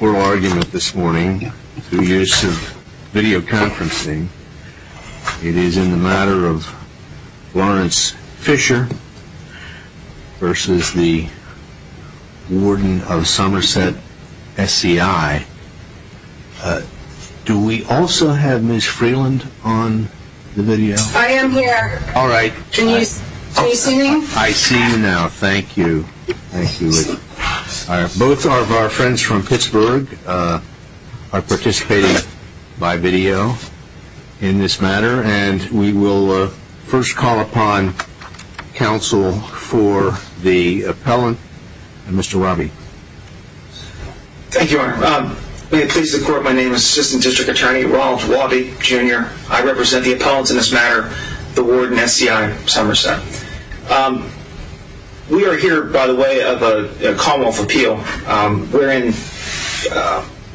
oral argument this morning through use of video conferencing. It is in the matter of Lawrence Fisher versus the warden of Somerset SCI. Do we also have Ms. Freeland on the video? I am here. All right. Can you see me? I see you now. Thank you. Both are of our friends from Pittsburgh are participating by video in this matter, and we will first call upon counsel for the appellant, Mr. Robby. Thank you, Your Honor. May it please the court, my name is Assistant District Attorney Ronald Robby, Jr. I represent the appellants in this case.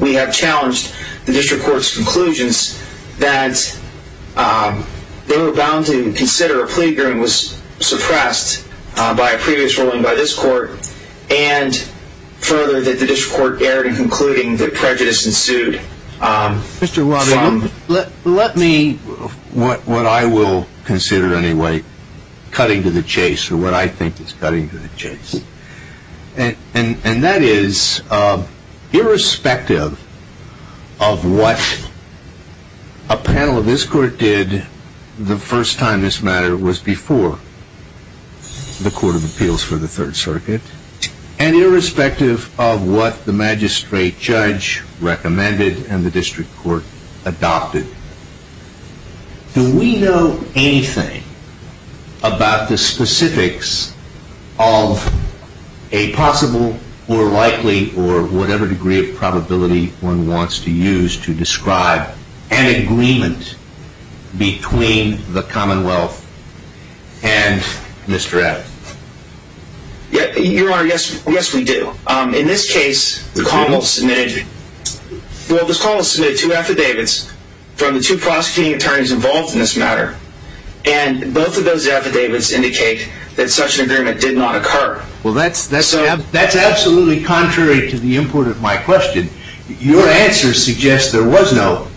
We have challenged the district court's conclusions that they were bound to consider a plea agreement was suppressed by a previous ruling by this court, and further, that the district court erred in concluding that prejudice ensued. Mr. Robby, let me, what I will consider anyway, cutting to the chase, or what I think is cutting to the chase. And that is, irrespective of what a panel of this court did the first time this matter was before the Court of Appeals for the Third Circuit, and irrespective of what the magistrate judge recommended and the district court adopted, do we know anything about the specifics of a possible or likely or whatever degree of probability one wants to use to describe an agreement between the district court and the appellant? Well, that is absolutely contrary to the import of my question. Your answer suggests there was no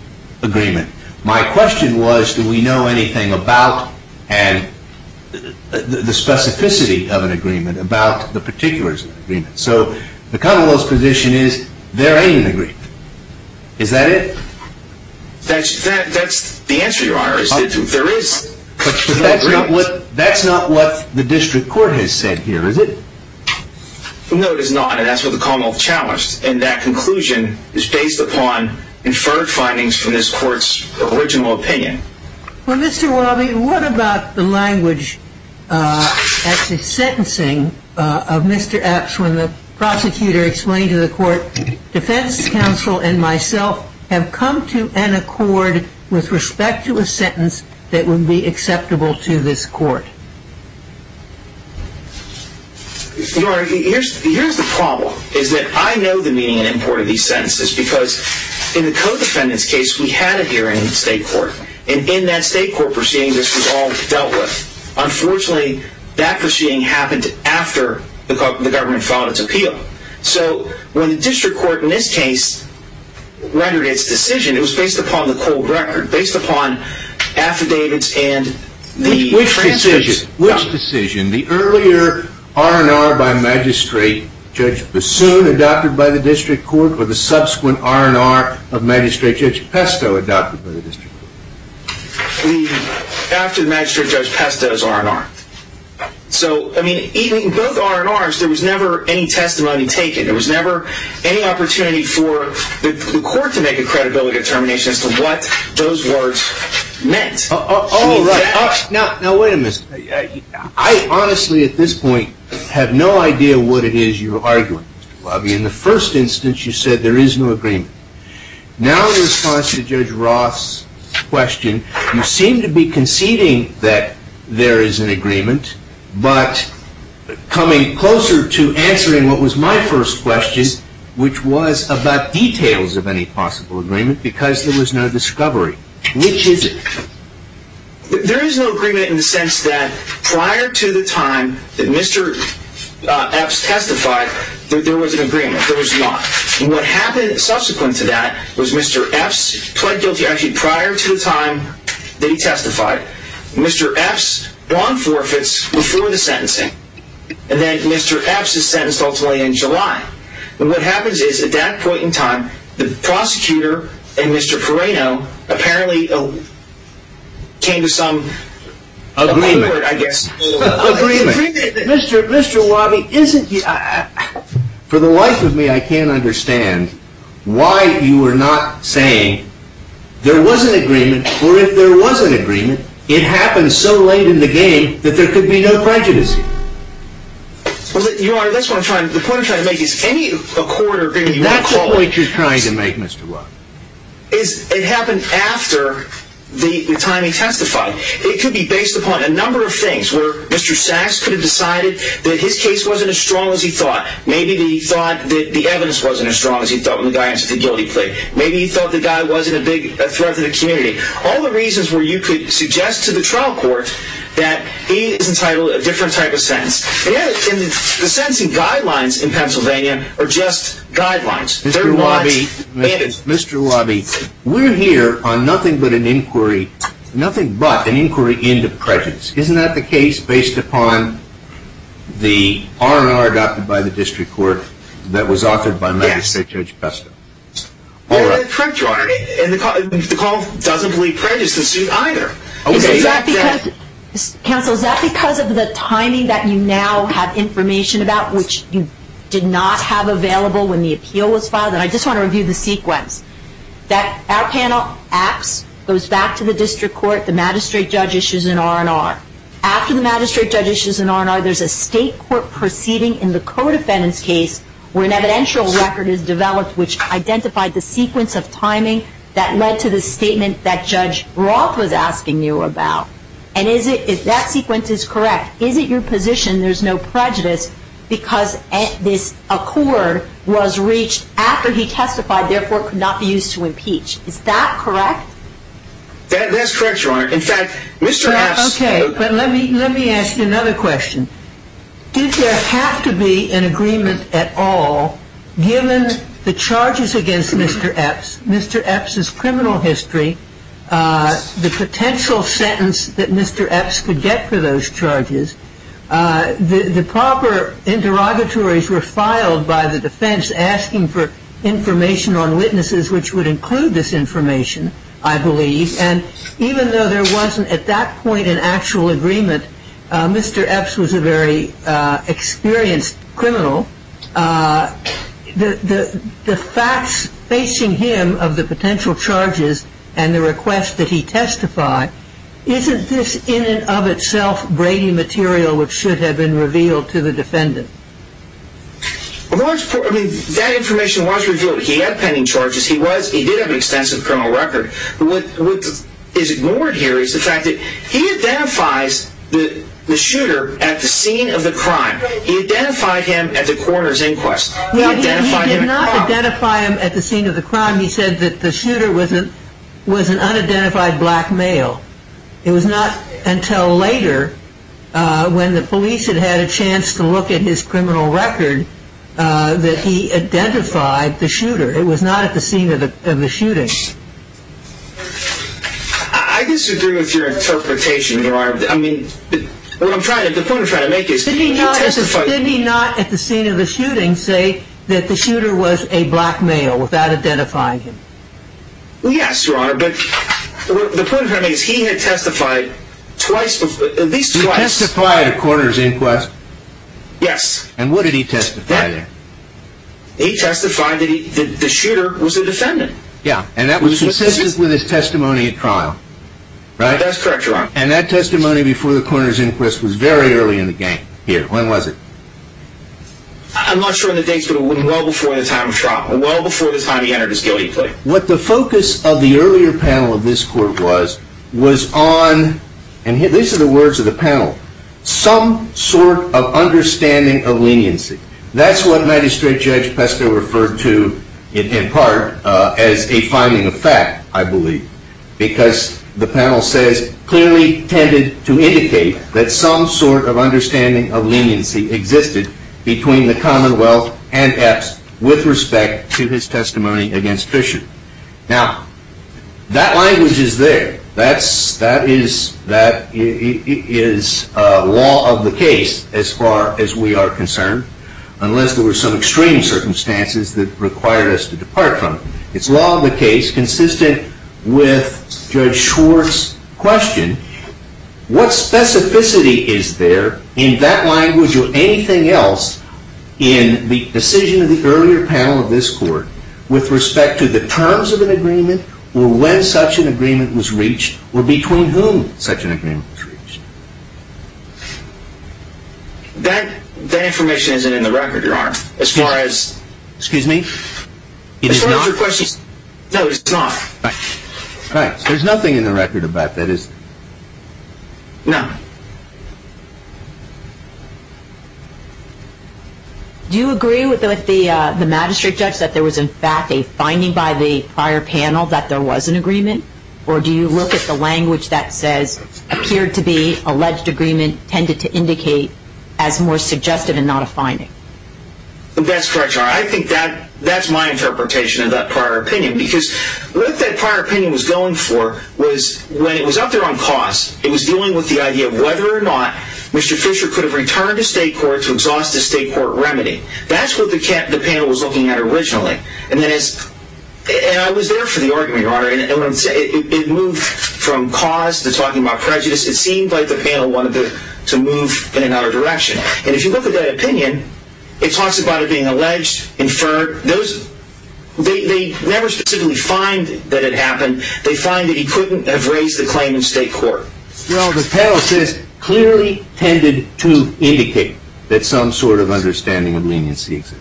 agreement. My question was, do we know anything about the specificity of an agreement, about the particulars of an agreement? So, the common off chalice, in that conclusion, is based upon inferred findings from this court's original opinion. Well, Mr. Robby, what about the language at the sentencing of Mr. Epps when the prosecutor explained to the court, defense counsel and myself have come to an accord with respect to a sentence that would be acceptable to this court? Your Honor, here is the problem, is that I know the meaning and import of these sentences, because in the co-defendant's case we had a hearing in the state court, and in that state court proceeding this was all dealt with. Unfortunately, that was not the case. So, when the district court in this case rendered its decision, it was based upon the cold record, based upon affidavits and the transcripts. Which decision, the earlier R&R by Magistrate Judge Bassoon adopted by the district court or the subsequent R&R of Magistrate Judge Pesto adopted by the district court? After Magistrate Judge Pesto's R&R. So, in both R&Rs there was never any testimony taken. There was never any opportunity for the court to make a credibility determination as to what those words meant. Oh, right. Now, wait a minute. I honestly at this point have no idea what it is you are arguing, Mr. Robby. In the first instance you said there is no agreement. Now, in response to Judge Ross' question, you seem to be conceding that there is an agreement, but coming closer to answering what was my first question, which was about details of any possible agreement, because there was no discovery. Which is it? There is no agreement in the sense that prior to the time that Mr. Epps testified that there was an agreement. There was not. And what happened subsequent to that was Mr. Epps pled guilty actually prior to the time that he testified. Mr. Epps won forfeits before the sentencing. And then Mr. Epps is sentenced ultimately in July. And what happens is at that point in time, the prosecutor and Mr. Perrino apparently came to some agreement, I guess. Mr. Robby, isn't he? For the life of me, I can't understand why you are not saying there was an agreement, or if there was an agreement, it happened so late in the game that there could be no prejudice. Your Honor, that's what I'm trying to make. The point I'm trying to make is any court agreement... That's the point you're trying to make, Mr. Robby. It happened after the time he testified. It could be based upon a number of things where Mr. Sachs could have decided that his case wasn't as strong as he thought. Maybe he thought that the guy answered the guilty plea. Maybe he thought the guy wasn't a big threat to the community. All the reasons where you could suggest to the trial court that he is entitled to a different type of sentence. The sentencing guidelines in Pennsylvania are just guidelines. Mr. Robby, we're here on nothing but an inquiry into prejudice. Isn't that the case based upon the R&R adopted by the state judge Besta? The court doesn't believe prejudice is a suit either. Counsel, is that because of the timing that you now have information about, which you did not have available when the appeal was filed? I just want to review the sequence. Our panel acts, goes back to the district court, the magistrate judge issues an R&R. After the magistrate judge issues an R&R, there's a state court proceeding in the codefendant's case where an evidential record is developed which identified the sequence of timing that led to the statement that Judge Roth was asking you about. And if that sequence is correct, is it your position there's no prejudice because this accord was reached after he testified, therefore, it could not be used to impeach? Is that correct? That's correct, Your Honor. In fact, Mr. Hapsen Okay, but let me ask you another question. Did there have to be an agreement at all given the charges against Mr. Epps, Mr. Epps' criminal history, the potential sentence that Mr. Epps could get for those charges, the proper interrogatories were filed by the defense asking for information on witnesses which would include this information, I believe, and even though there wasn't at that point an actual agreement, Mr. Epps was a very experienced criminal. The facts facing him of the potential charges and the request that he testify, isn't this in and of itself Brady material which should have been revealed to the defendant? That information was revealed. He had pending charges. He did have an extensive criminal record. What is ignored here is the fact that he identifies the shooter at the scene of the crime. He identified him at the coroner's inquest. He did not identify him at the scene of the crime. He said that the shooter was an unidentified black male. It was not until later when the police had had a chance to look at his criminal record that he I disagree with your interpretation, Your Honor. I mean, the point I'm trying to make is Didn't he not at the scene of the shooting say that the shooter was a black male without identifying him? Yes, Your Honor, but the point I'm trying to make is he had testified at least twice. He testified at the coroner's inquest. Yes. And what did he testify there? He testified that the shooter was a defendant. Yeah, and that was consistent with his testimony at trial, right? That's correct, Your Honor. And that testimony before the coroner's inquest was very early in the game here. When was it? I'm not sure of the dates, but it was well before the time of trial, well before the time he entered his guilty plea. What the focus of the earlier panel of this court was, was on, and these are the words of the panel, some sort of understanding of leniency. That's what Magistrate Judge Pesto referred to in part as a finding of fact, I believe, because the panel says, clearly tended to indicate that some sort of understanding of leniency existed between the Commonwealth and Epps with respect to his testimony against Fisher. Now, that language is there. That is law of the case as far as we are concerned, unless there were some extreme circumstances that required us to depart from it. It's law of the case consistent with Judge Schwartz's question. What specificity is there in that language or anything else in the decision of the earlier panel of this court with respect to the terms of an agreement or when such an agreement was reached or between whom such an agreement was reached? That information isn't in the record, Your Honor, as far as... Excuse me? As far as your questions... No, it's not. Right. There's nothing in the record about that, is there? No. Do you agree with the Magistrate Judge that there was, in fact, a finding by the prior panel that there was an agreement? Or do you look at the language that says, appeared to be alleged agreement, tended to indicate as more suggestive and not a finding? That's correct, Your Honor. I think that's my interpretation of that prior opinion because what that prior opinion was going for was, when it was out there on cause, it was dealing with the idea of whether or not Mr. Fisher could have returned to state court to exhaust a state court remedy. That's what the panel was looking at originally. And I was there for the argument, Your Honor, and it moved from cause to talking about prejudice. It seemed like the panel wanted to move in another direction. And if you look at that opinion, it talks about it being alleged, inferred. They never specifically find that it happened. They find that he couldn't have raised the claim in state court. Your Honor, the panel says, clearly tended to indicate that some sort of understanding of leniency existed.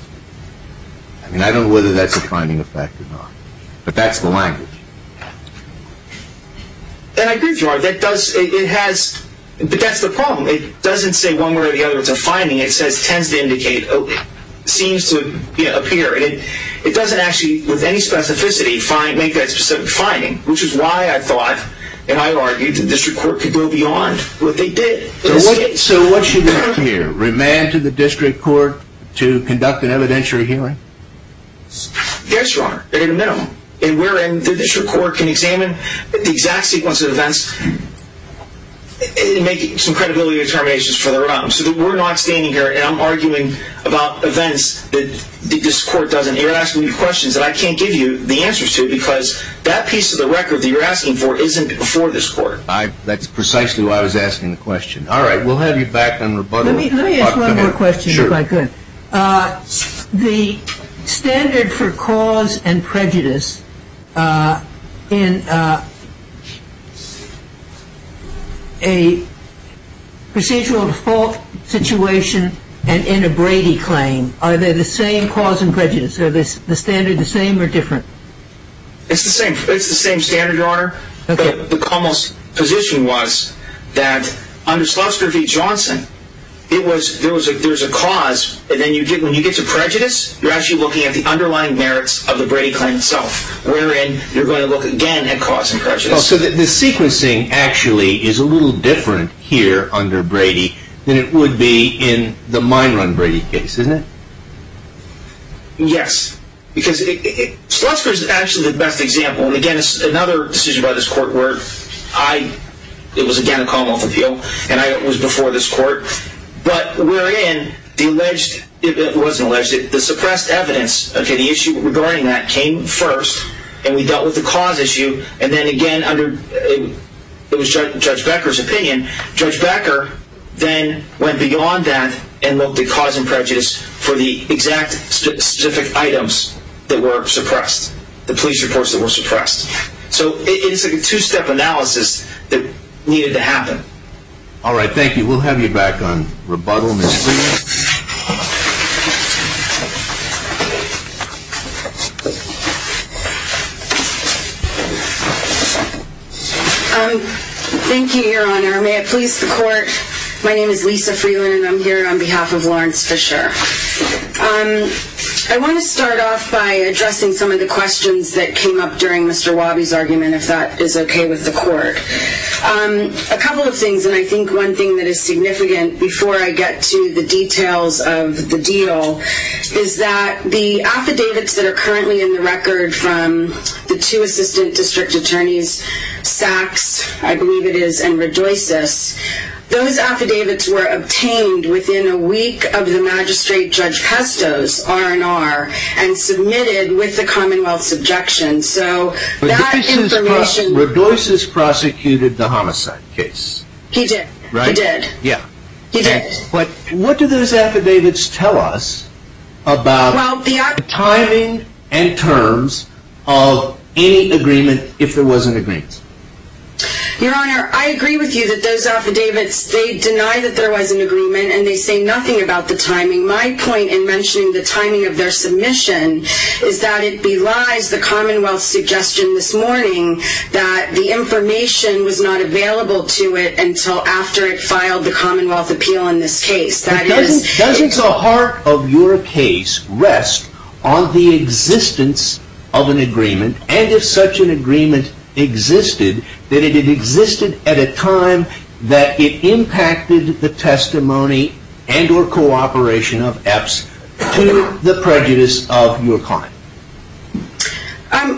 I mean, I don't know whether that's a finding of fact or not, but that's the language. And I agree with you, Your Honor. That does, it has, but that's the problem. It doesn't say one way or the other it's a finding. It says, tends to indicate, seems to appear. It doesn't actually, with any specificity, make that a specific finding, which is why I thought, and I argued, the district court could go beyond what they did. So what should happen here? Remand to the district court to conduct an evidentiary hearing? Yes, Your Honor, at a minimum. And wherein the district court can examine the exact sequence of events and make some credibility determinations for their own. Your Honor, so we're not standing here and I'm arguing about events that this court doesn't. You're asking me questions that I can't give you the answers to, because that piece of the record that you're asking for isn't before this court. That's precisely why I was asking the question. All right, we'll have you back on rebuttal. Let me ask one more question, if I could. The standard for cause and prejudice in a procedural default situation and in a Brady claim, are they the same cause and prejudice? Are the standards the same or different? Your Honor, the commas position was that under Slutsker v. Johnson, there's a cause and then when you get to prejudice, you're actually looking at the underlying merits of the Brady claim itself, wherein you're going to look again at cause and prejudice. So the sequencing actually is a little different here under Brady than it would be in the mine run Brady case, isn't it? Yes, because Slutsker is actually the best example. Again, another decision by this court where I, it was again a Commonwealth appeal, and I was before this court, but wherein the alleged, it wasn't alleged, the suppressed evidence of any issue regarding that came first, and we dealt with the cause issue, and then again under, it was Judge Becker's opinion, Judge Becker then went beyond that and looked at cause and prejudice for the exact specific items that were suppressed, the police reports that were suppressed. So it's a two-step analysis that needed to happen. All right, thank you. We'll have you back on rebuttal, Ms. Freeman. Thank you, Your Honor. May it please the court, My name is Lisa Freeman, and I'm here on behalf of Lawrence Fisher. I want to start off by addressing some of the questions that came up during Mr. Wabi's argument, if that is okay with the court. A couple of things, and I think one thing that is significant before I get to the details of the deal is that the affidavits that are currently in the record from the two assistant district attorneys, Sachs, I believe it is, and Redoisos, those affidavits were obtained within a week of the magistrate Judge Pesto's R&R and submitted with the Commonwealth's objection. So that information... Redoisos prosecuted the homicide case. He did. He did. What do those affidavits tell us about the timing and terms of any agreement, if there was an agreement? Your Honor, I agree with you that those affidavits, they deny that there was an agreement and they say nothing about the timing. My point in mentioning the timing of their submission is that it belies the Commonwealth's suggestion this morning that the information was not available to it until after it filed the Commonwealth appeal on this case. Doesn't the heart of your case rest on the existence of an agreement, and if such an agreement existed, that it existed at a time that it impacted the testimony and or cooperation of EPS to the prejudice of your client?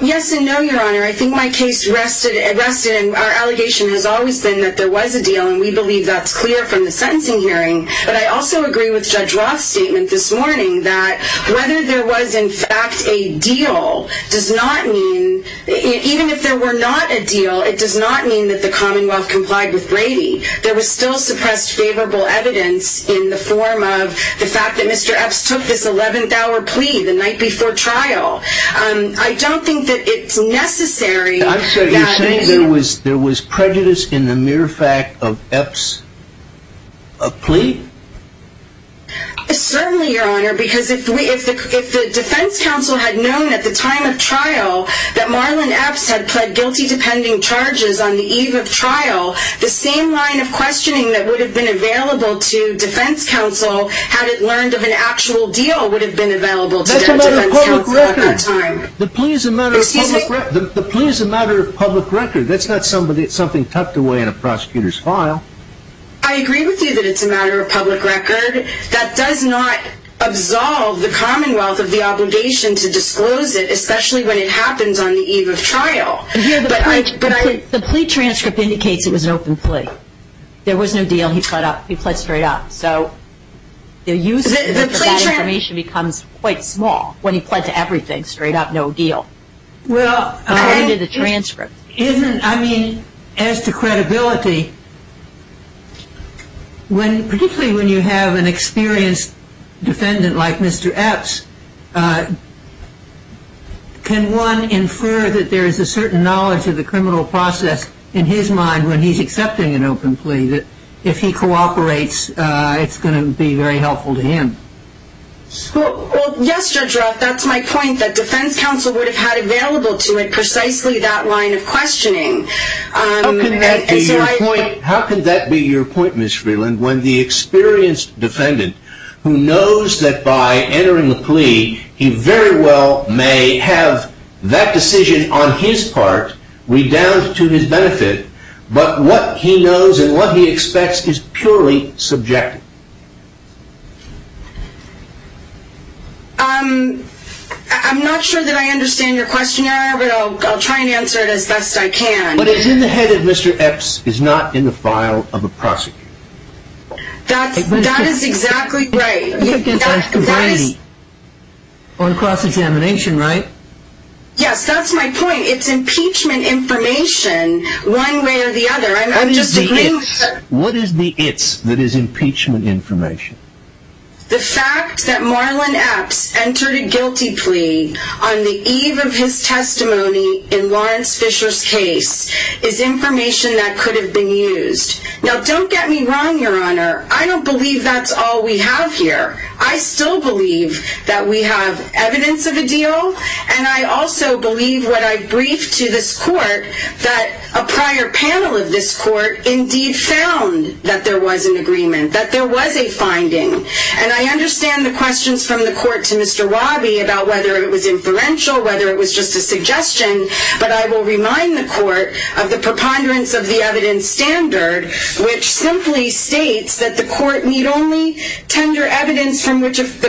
Yes and no, Your Honor. I think my case rested, and our allegation has always been that there was a deal, and we believe that's clear from the sentencing hearing, but I also agree with Judge Roth's statement this morning that whether there was in fact a deal does not mean, even if there were not a deal, it does not mean that the Commonwealth complied with Brady. There was still suppressed favorable evidence in the form of the fact that Mr. EPS took this 11th hour plea the night before trial. I don't think that it's necessary. You're saying there was prejudice in the mere fact of EPS' plea? Certainly, Your Honor, because if the defense counsel had known at the time of trial that Marlon EPS had pled guilty to pending charges on the eve of trial, the same line of questioning that would have been available to defense counsel had it learned of an actual deal would have been available to defense counsel at that time. The plea is a matter of public record. That's not something tucked away in a prosecutor's file. I agree with you that it's a matter of public record. That does not absolve the Commonwealth of the obligation to disclose it, especially when it happens on the eve of trial. The plea transcript indicates it was an open plea. There was no deal. He pled straight up. So the use of that information becomes quite small when he pled to everything, straight up, no deal. Well, I mean, as to credibility, particularly when you have an experienced defendant like Mr. EPS, can one infer that there is a certain knowledge of the criminal process in his mind when he's accepting an open plea that if he cooperates, it's going to be very helpful to him? Well, yes, Judge Roth, that's my point, that defense counsel would have had available to it precisely that line of questioning. How can that be your point, Ms. Freeland, when the experienced defendant who knows that by entering the plea, he very well may have that decision on his part redoubled to his benefit, but what he knows and what he expects is purely subjective? I'm not sure that I understand your question. I'll try and answer it as best I can. But it's in the head that Mr. EPS is not in the file of a prosecutor. That is exactly right. On cross-examination, right? Yes, that's my point. It's impeachment information one way or the other. What is the it's that is impeachment information? The fact that Marlon EPS entered a guilty plea on the eve of his testimony in Lawrence Fisher's case is information that could have been used. Now, don't get me wrong, Your Honor. I don't believe that's all we have here. I still believe that we have evidence of a deal, and I also believe when I briefed to this court that a prior panel of this court indeed found that there was an agreement, that there was a finding. And I understand the questions from the court to Mr. Wabi about whether it was inferential, whether it was just a suggestion, but I will remind the court of the preponderance of the evidence standard, which simply states that the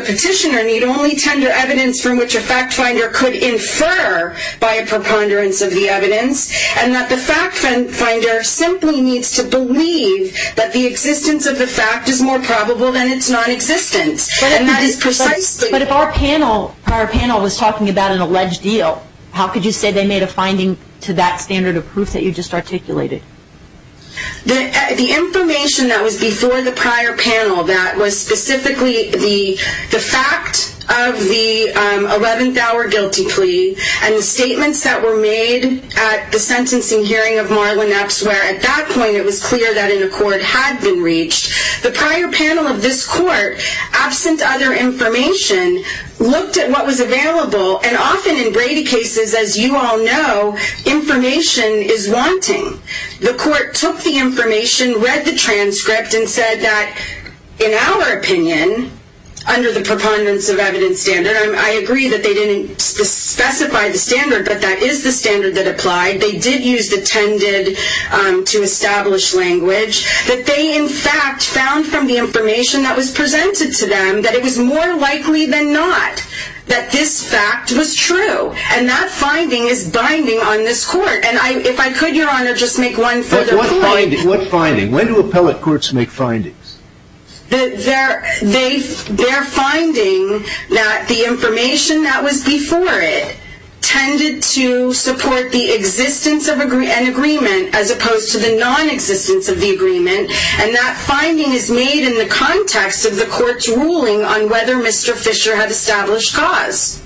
petitioner need only tender evidence from which a fact finder could infer by a preponderance of the evidence, and that the fact finder simply needs to believe that the existence of the fact is more probable than its nonexistence. But if our panel was talking about an alleged deal, how could you say they made a finding to that standard of proof that you just articulated? The information that was before the prior panel, that was specifically the fact of the 11th hour guilty plea and the statements that were made at the sentencing hearing of Marlon Epps, where at that point it was clear that an accord had been reached, the prior panel of this court, absent other information, looked at what was available, and often in Brady cases, as you all know, information is wanting. The court took the information, read the transcript, and said that in our opinion, under the preponderance of evidence standard, and I agree that they didn't specify the standard, but that is the standard that applied, they did use the tended to establish language, that they in fact found from the information that was presented to them that it was more likely than not that this fact was true. And that finding is binding on this court. And if I could, Your Honor, just make one further point. What finding? When do appellate courts make findings? Their finding that the information that was before it tended to support the existence of an agreement as opposed to the nonexistence of the agreement, and that finding is made in the context of the court's ruling on whether Mr. Fisher had established cause.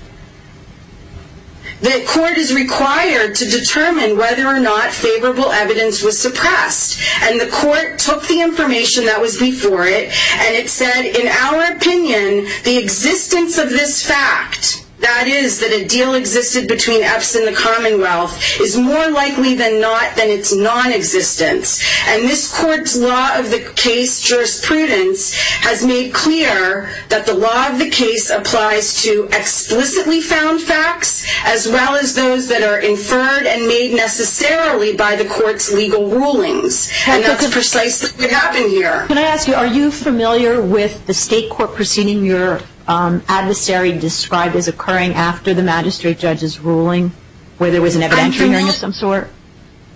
The court is required to determine whether or not favorable evidence was suppressed. And the court took the information that was before it, and it said in our opinion, the existence of this fact, that is that a deal existed between EPS and the Commonwealth, is more likely than not than its nonexistence. And this court's law of the case jurisprudence has made clear that the law of the case applies to explicitly found facts as well as those that are inferred and made necessarily by the court's legal rulings. And that's precisely what happened here. Can I ask you, are you familiar with the state court proceeding your adversary described as occurring after the magistrate judge's ruling, where there was an evidentiary hearing of some sort?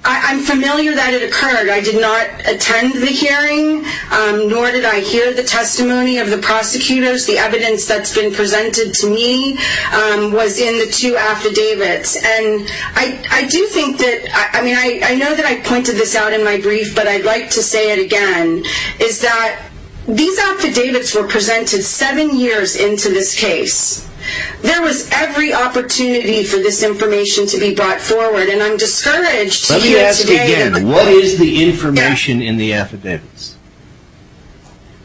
I'm familiar that it occurred. I did not attend the hearing, nor did I hear the testimony of the prosecutors. The evidence that's been presented to me was in the two affidavits. And I do think that, I mean, I know that I pointed this out in my brief, but I'd like to say it again, is that these affidavits were presented seven years into this case. There was every opportunity for this information to be brought forward, and I'm discouraged here today. Let me ask again, what is the information in the affidavits?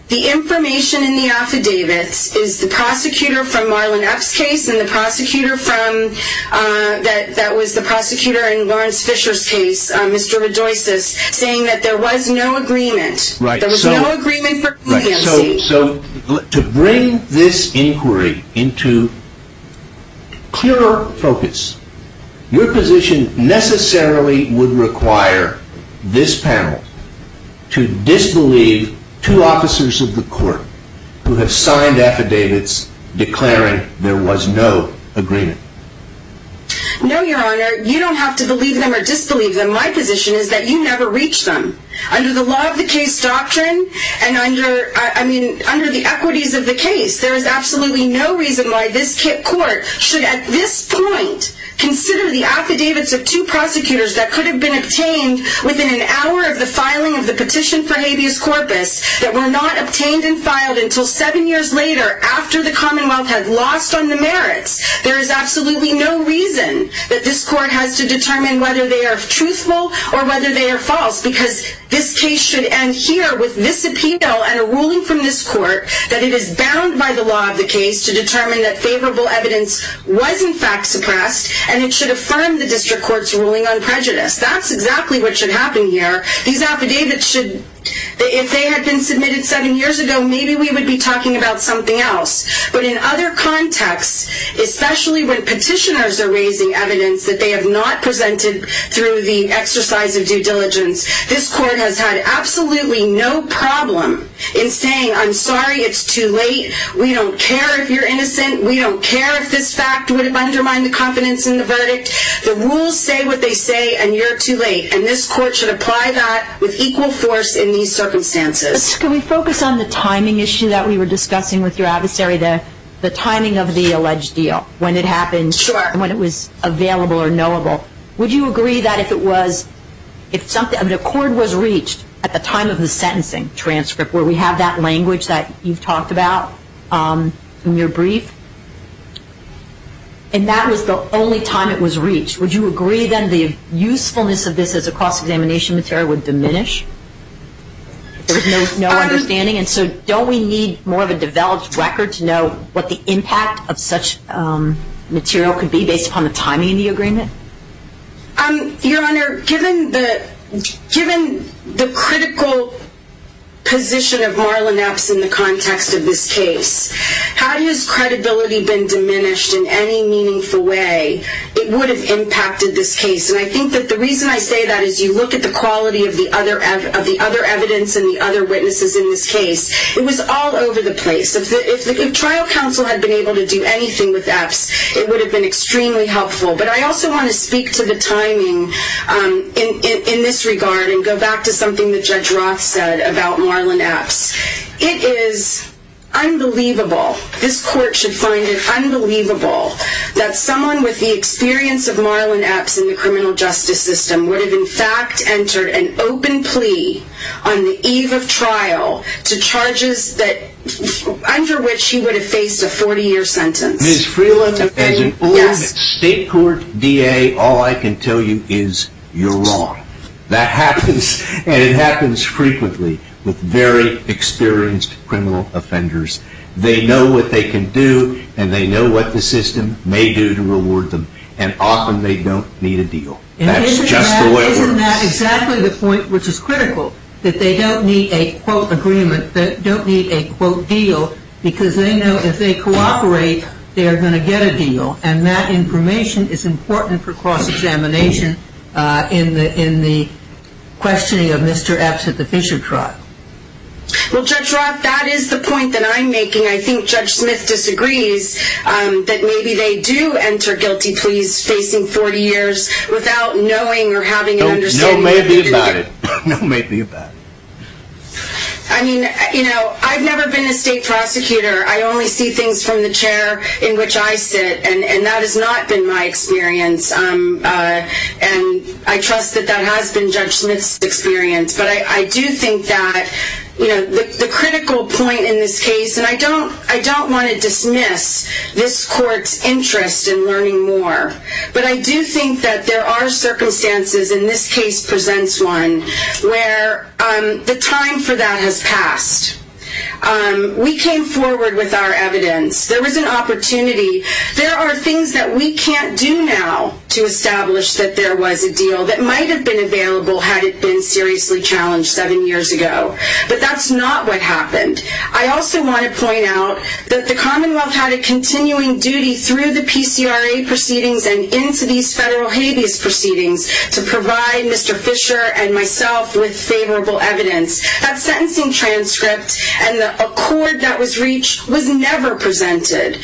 The information in the affidavits is the prosecutor from Marlon Epps' case and the prosecutor from, that was the prosecutor in Lawrence Fisher's case, Mr. Redoyses, saying that there was no agreement. There was no agreement for competency. So to bring this inquiry into clearer focus, your position necessarily would require this panel to disbelieve two officers of the court who have signed affidavits declaring there was no agreement. No, Your Honor, you don't have to believe them or disbelieve them. My position is that you never reach them. Under the law of the case doctrine, and under, I mean, under the equities of the case, there is absolutely no reason why this court should at this point consider the affidavits of two prosecutors that could have been obtained within an hour of the filing of the petition for habeas corpus that were not obtained and filed until seven years later after the Commonwealth had lost on the merits. There is absolutely no reason that this court has to determine whether they are truthful or whether they are false because this case should end here with this appeal and a ruling from this court that it is bound by the law of the case to determine that favorable evidence was in fact suppressed and it should affirm the district court's ruling on prejudice. That's exactly what should happen here. These affidavits should, if they had been submitted seven years ago, maybe we would be talking about something else. But in other contexts, especially when petitioners are raising evidence that they have not presented through the exercise of due diligence, this court has had absolutely no problem in saying, I'm sorry, it's too late, we don't care if you're innocent, we don't care if this fact would undermine the confidence in the verdict. The rules say what they say, and you're too late. And this court should apply that with equal force in these circumstances. Can we focus on the timing issue that we were discussing with your adversary, the timing of the alleged deal, when it happened, when it was available or knowable. Would you agree that if it was, if an accord was reached at the time of the sentencing transcript, where we have that language that you've talked about in your brief, and that was the only time it was reached, would you agree then the usefulness of this as a cross-examination material would diminish if there was no understanding? And so don't we need more of a developed record to know what the impact of such material could be based upon the timing of the agreement? Your Honor, given the critical position of Marlon Epps in the context of this case, had his credibility been diminished in any meaningful way, it would have impacted this case. And I think that the reason I say that is you look at the quality of the other evidence and the other witnesses in this case, it was all over the place. If trial counsel had been able to do anything with Epps, it would have been extremely helpful. But I also want to speak to the timing in this regard and go back to something that Judge Roth said about Marlon Epps. It is unbelievable, this court should find it unbelievable, that someone with the experience of Marlon Epps in the criminal justice system would have, in fact, entered an open plea on the eve of trial to charges under which he would have faced a 40-year sentence. Ms. Freeland, as an old State Court DA, all I can tell you is you're wrong. That happens, and it happens frequently, with very experienced criminal offenders. They know what they can do, and they know what the system may do to reward them, and often they don't need a deal. That's just the way it works. Isn't that exactly the point which is critical, that they don't need a, quote, agreement, they don't need a, quote, deal, because they know if they cooperate, they are going to get a deal, and that information is important for cross-examination in the questioning of Mr. Epps at the Fisher trial. Well, Judge Roth, that is the point that I'm making. I think Judge Smith disagrees that maybe they do enter guilty pleas facing 40 years without knowing or having an understanding... No maybe about it. No maybe about it. I mean, you know, I've never been a state prosecutor. I only see things from the chair in which I sit, and that has not been my experience, and I trust that that has been Judge Smith's experience, but I do think that the critical point in this case, and I don't want to dismiss this court's interest in learning more, but I do think that there are circumstances, and this case presents one, where the time for that has passed. We came forward with our evidence. There was an opportunity. There are things that we can't do now to establish that there was a deal that might have been available had it been seriously challenged seven years ago, but that's not what happened. I also want to point out that the Commonwealth had a continuing duty through the PCRA proceedings and into these federal habeas proceedings to provide Mr. Fisher and myself with favorable evidence. That sentencing transcript and the accord that was reached was never presented.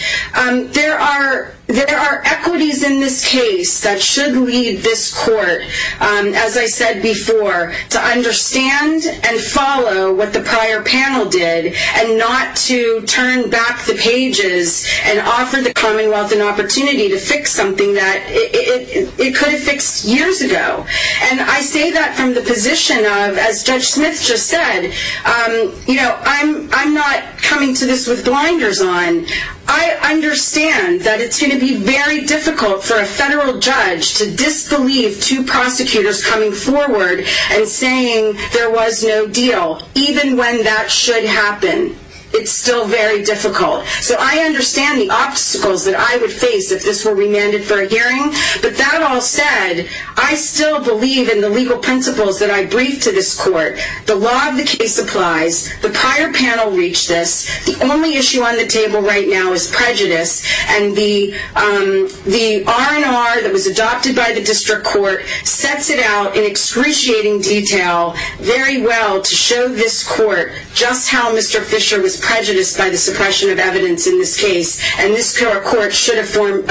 There are equities in this case that should lead this court, as I said before, to understand and follow what the prior panel did and not to turn back the pages and offer the Commonwealth an opportunity to fix something that it could have fixed years ago. And I say that from the position of, as Judge Smith just said, I'm not coming to this with blinders on. I understand that it's going to be very difficult for a federal judge to disbelieve two prosecutors coming forward and saying there was no deal, even when that should happen. It's still very difficult. So I understand the obstacles that I would face if this were remanded for a hearing, but that all said, I still believe in the legal principles that I briefed to this court. The law of the case applies. The prior panel reached this. The only issue on the table right now is prejudice, and the R&R that was adopted by the district court sets it out in excruciating detail very well to show this court just how Mr. Fisher was prejudiced by the suppression of evidence in this case, and this court should affirm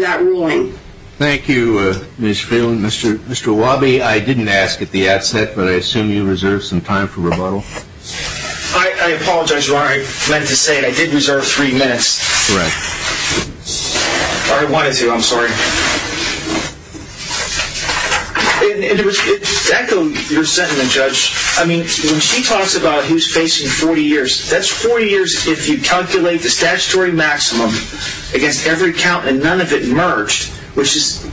that ruling. Thank you, Ms. Phelan. Mr. Awabi, I didn't ask at the outset, but I assume you reserved some time for rebuttal. I apologize, Your Honor. I meant to say I did reserve three minutes. Correct. I wanted to, I'm sorry. And just to echo your sentiment, Judge, I mean, when she talks about who's facing 40 years, that's 40 years if you calculate the statutory maximum against every count and none of it merged, which is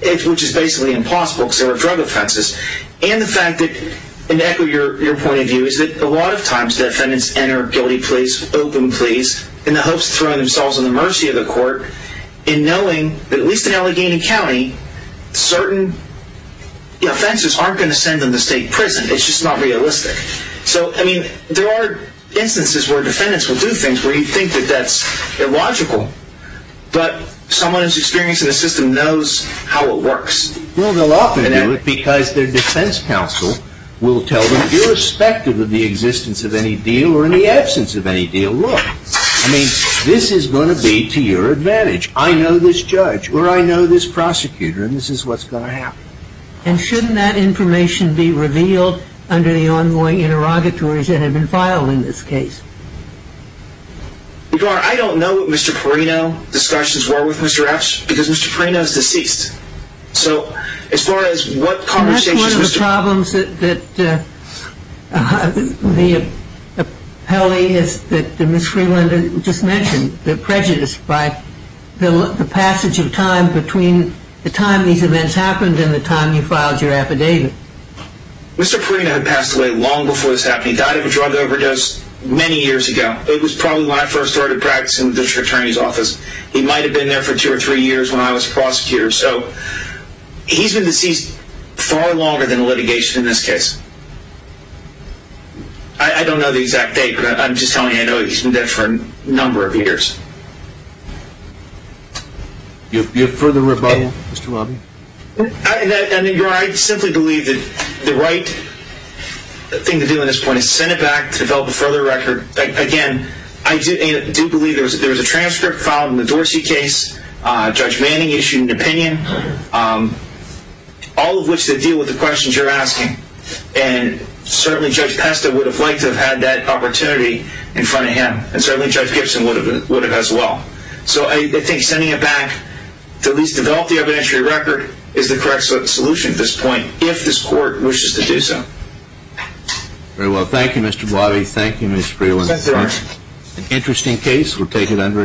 basically impossible because there were drug offenses. And to echo your point of view is that a lot of times defendants enter guilty pleas, open pleas, in the hopes of throwing themselves in the mercy of the court in knowing that at least in Allegheny County, certain offenses aren't going to send them to state prison. It's just not realistic. So, I mean, there are instances where defendants will do things where you think that that's illogical, but someone who's experienced in the system knows how it works. Well, they'll often do it because their defense counsel will tell them, irrespective of the existence of any deal or in the absence of any deal, look, I mean, this is going to be to your advantage. I know this judge or I know this prosecutor and this is what's going to happen. And shouldn't that information be revealed under the ongoing interrogatories that have been filed in this case? Your Honor, I don't know what Mr. Perino's discussions were with Mr. Epps because Mr. Perino is deceased. So, as far as what conversations- That's one of the problems that Ms. Freeland just mentioned, the prejudice by the passage of time between the time these events happened and the time you filed your affidavit. Mr. Perino had passed away long before this happened. He died of a drug overdose many years ago. It was probably when I first started practicing in the district attorney's office. He might have been there for two or three years when I was a prosecutor. So, he's been deceased far longer than litigation in this case. I don't know the exact date, but I'm just telling you I know he's been dead for a number of years. You have further rebuttal, Mr. Robby? Your Honor, I simply believe that the right thing to do at this point is send it back to develop a further record. Again, I do believe there was a transcript filed in the Dorsey case. Judge Manning issued an opinion, all of which that deal with the questions you're asking. And certainly, Judge Pesta would have liked to have had that opportunity in front of him. And certainly, Judge Gibson would have as well. So, I think sending it back to at least develop the evidentiary record is the correct solution at this point, if this court wishes to do so. Very well. Thank you, Mr. Blobby. Thank you, Ms. Freeland. An interesting case. We'll take it under investigation.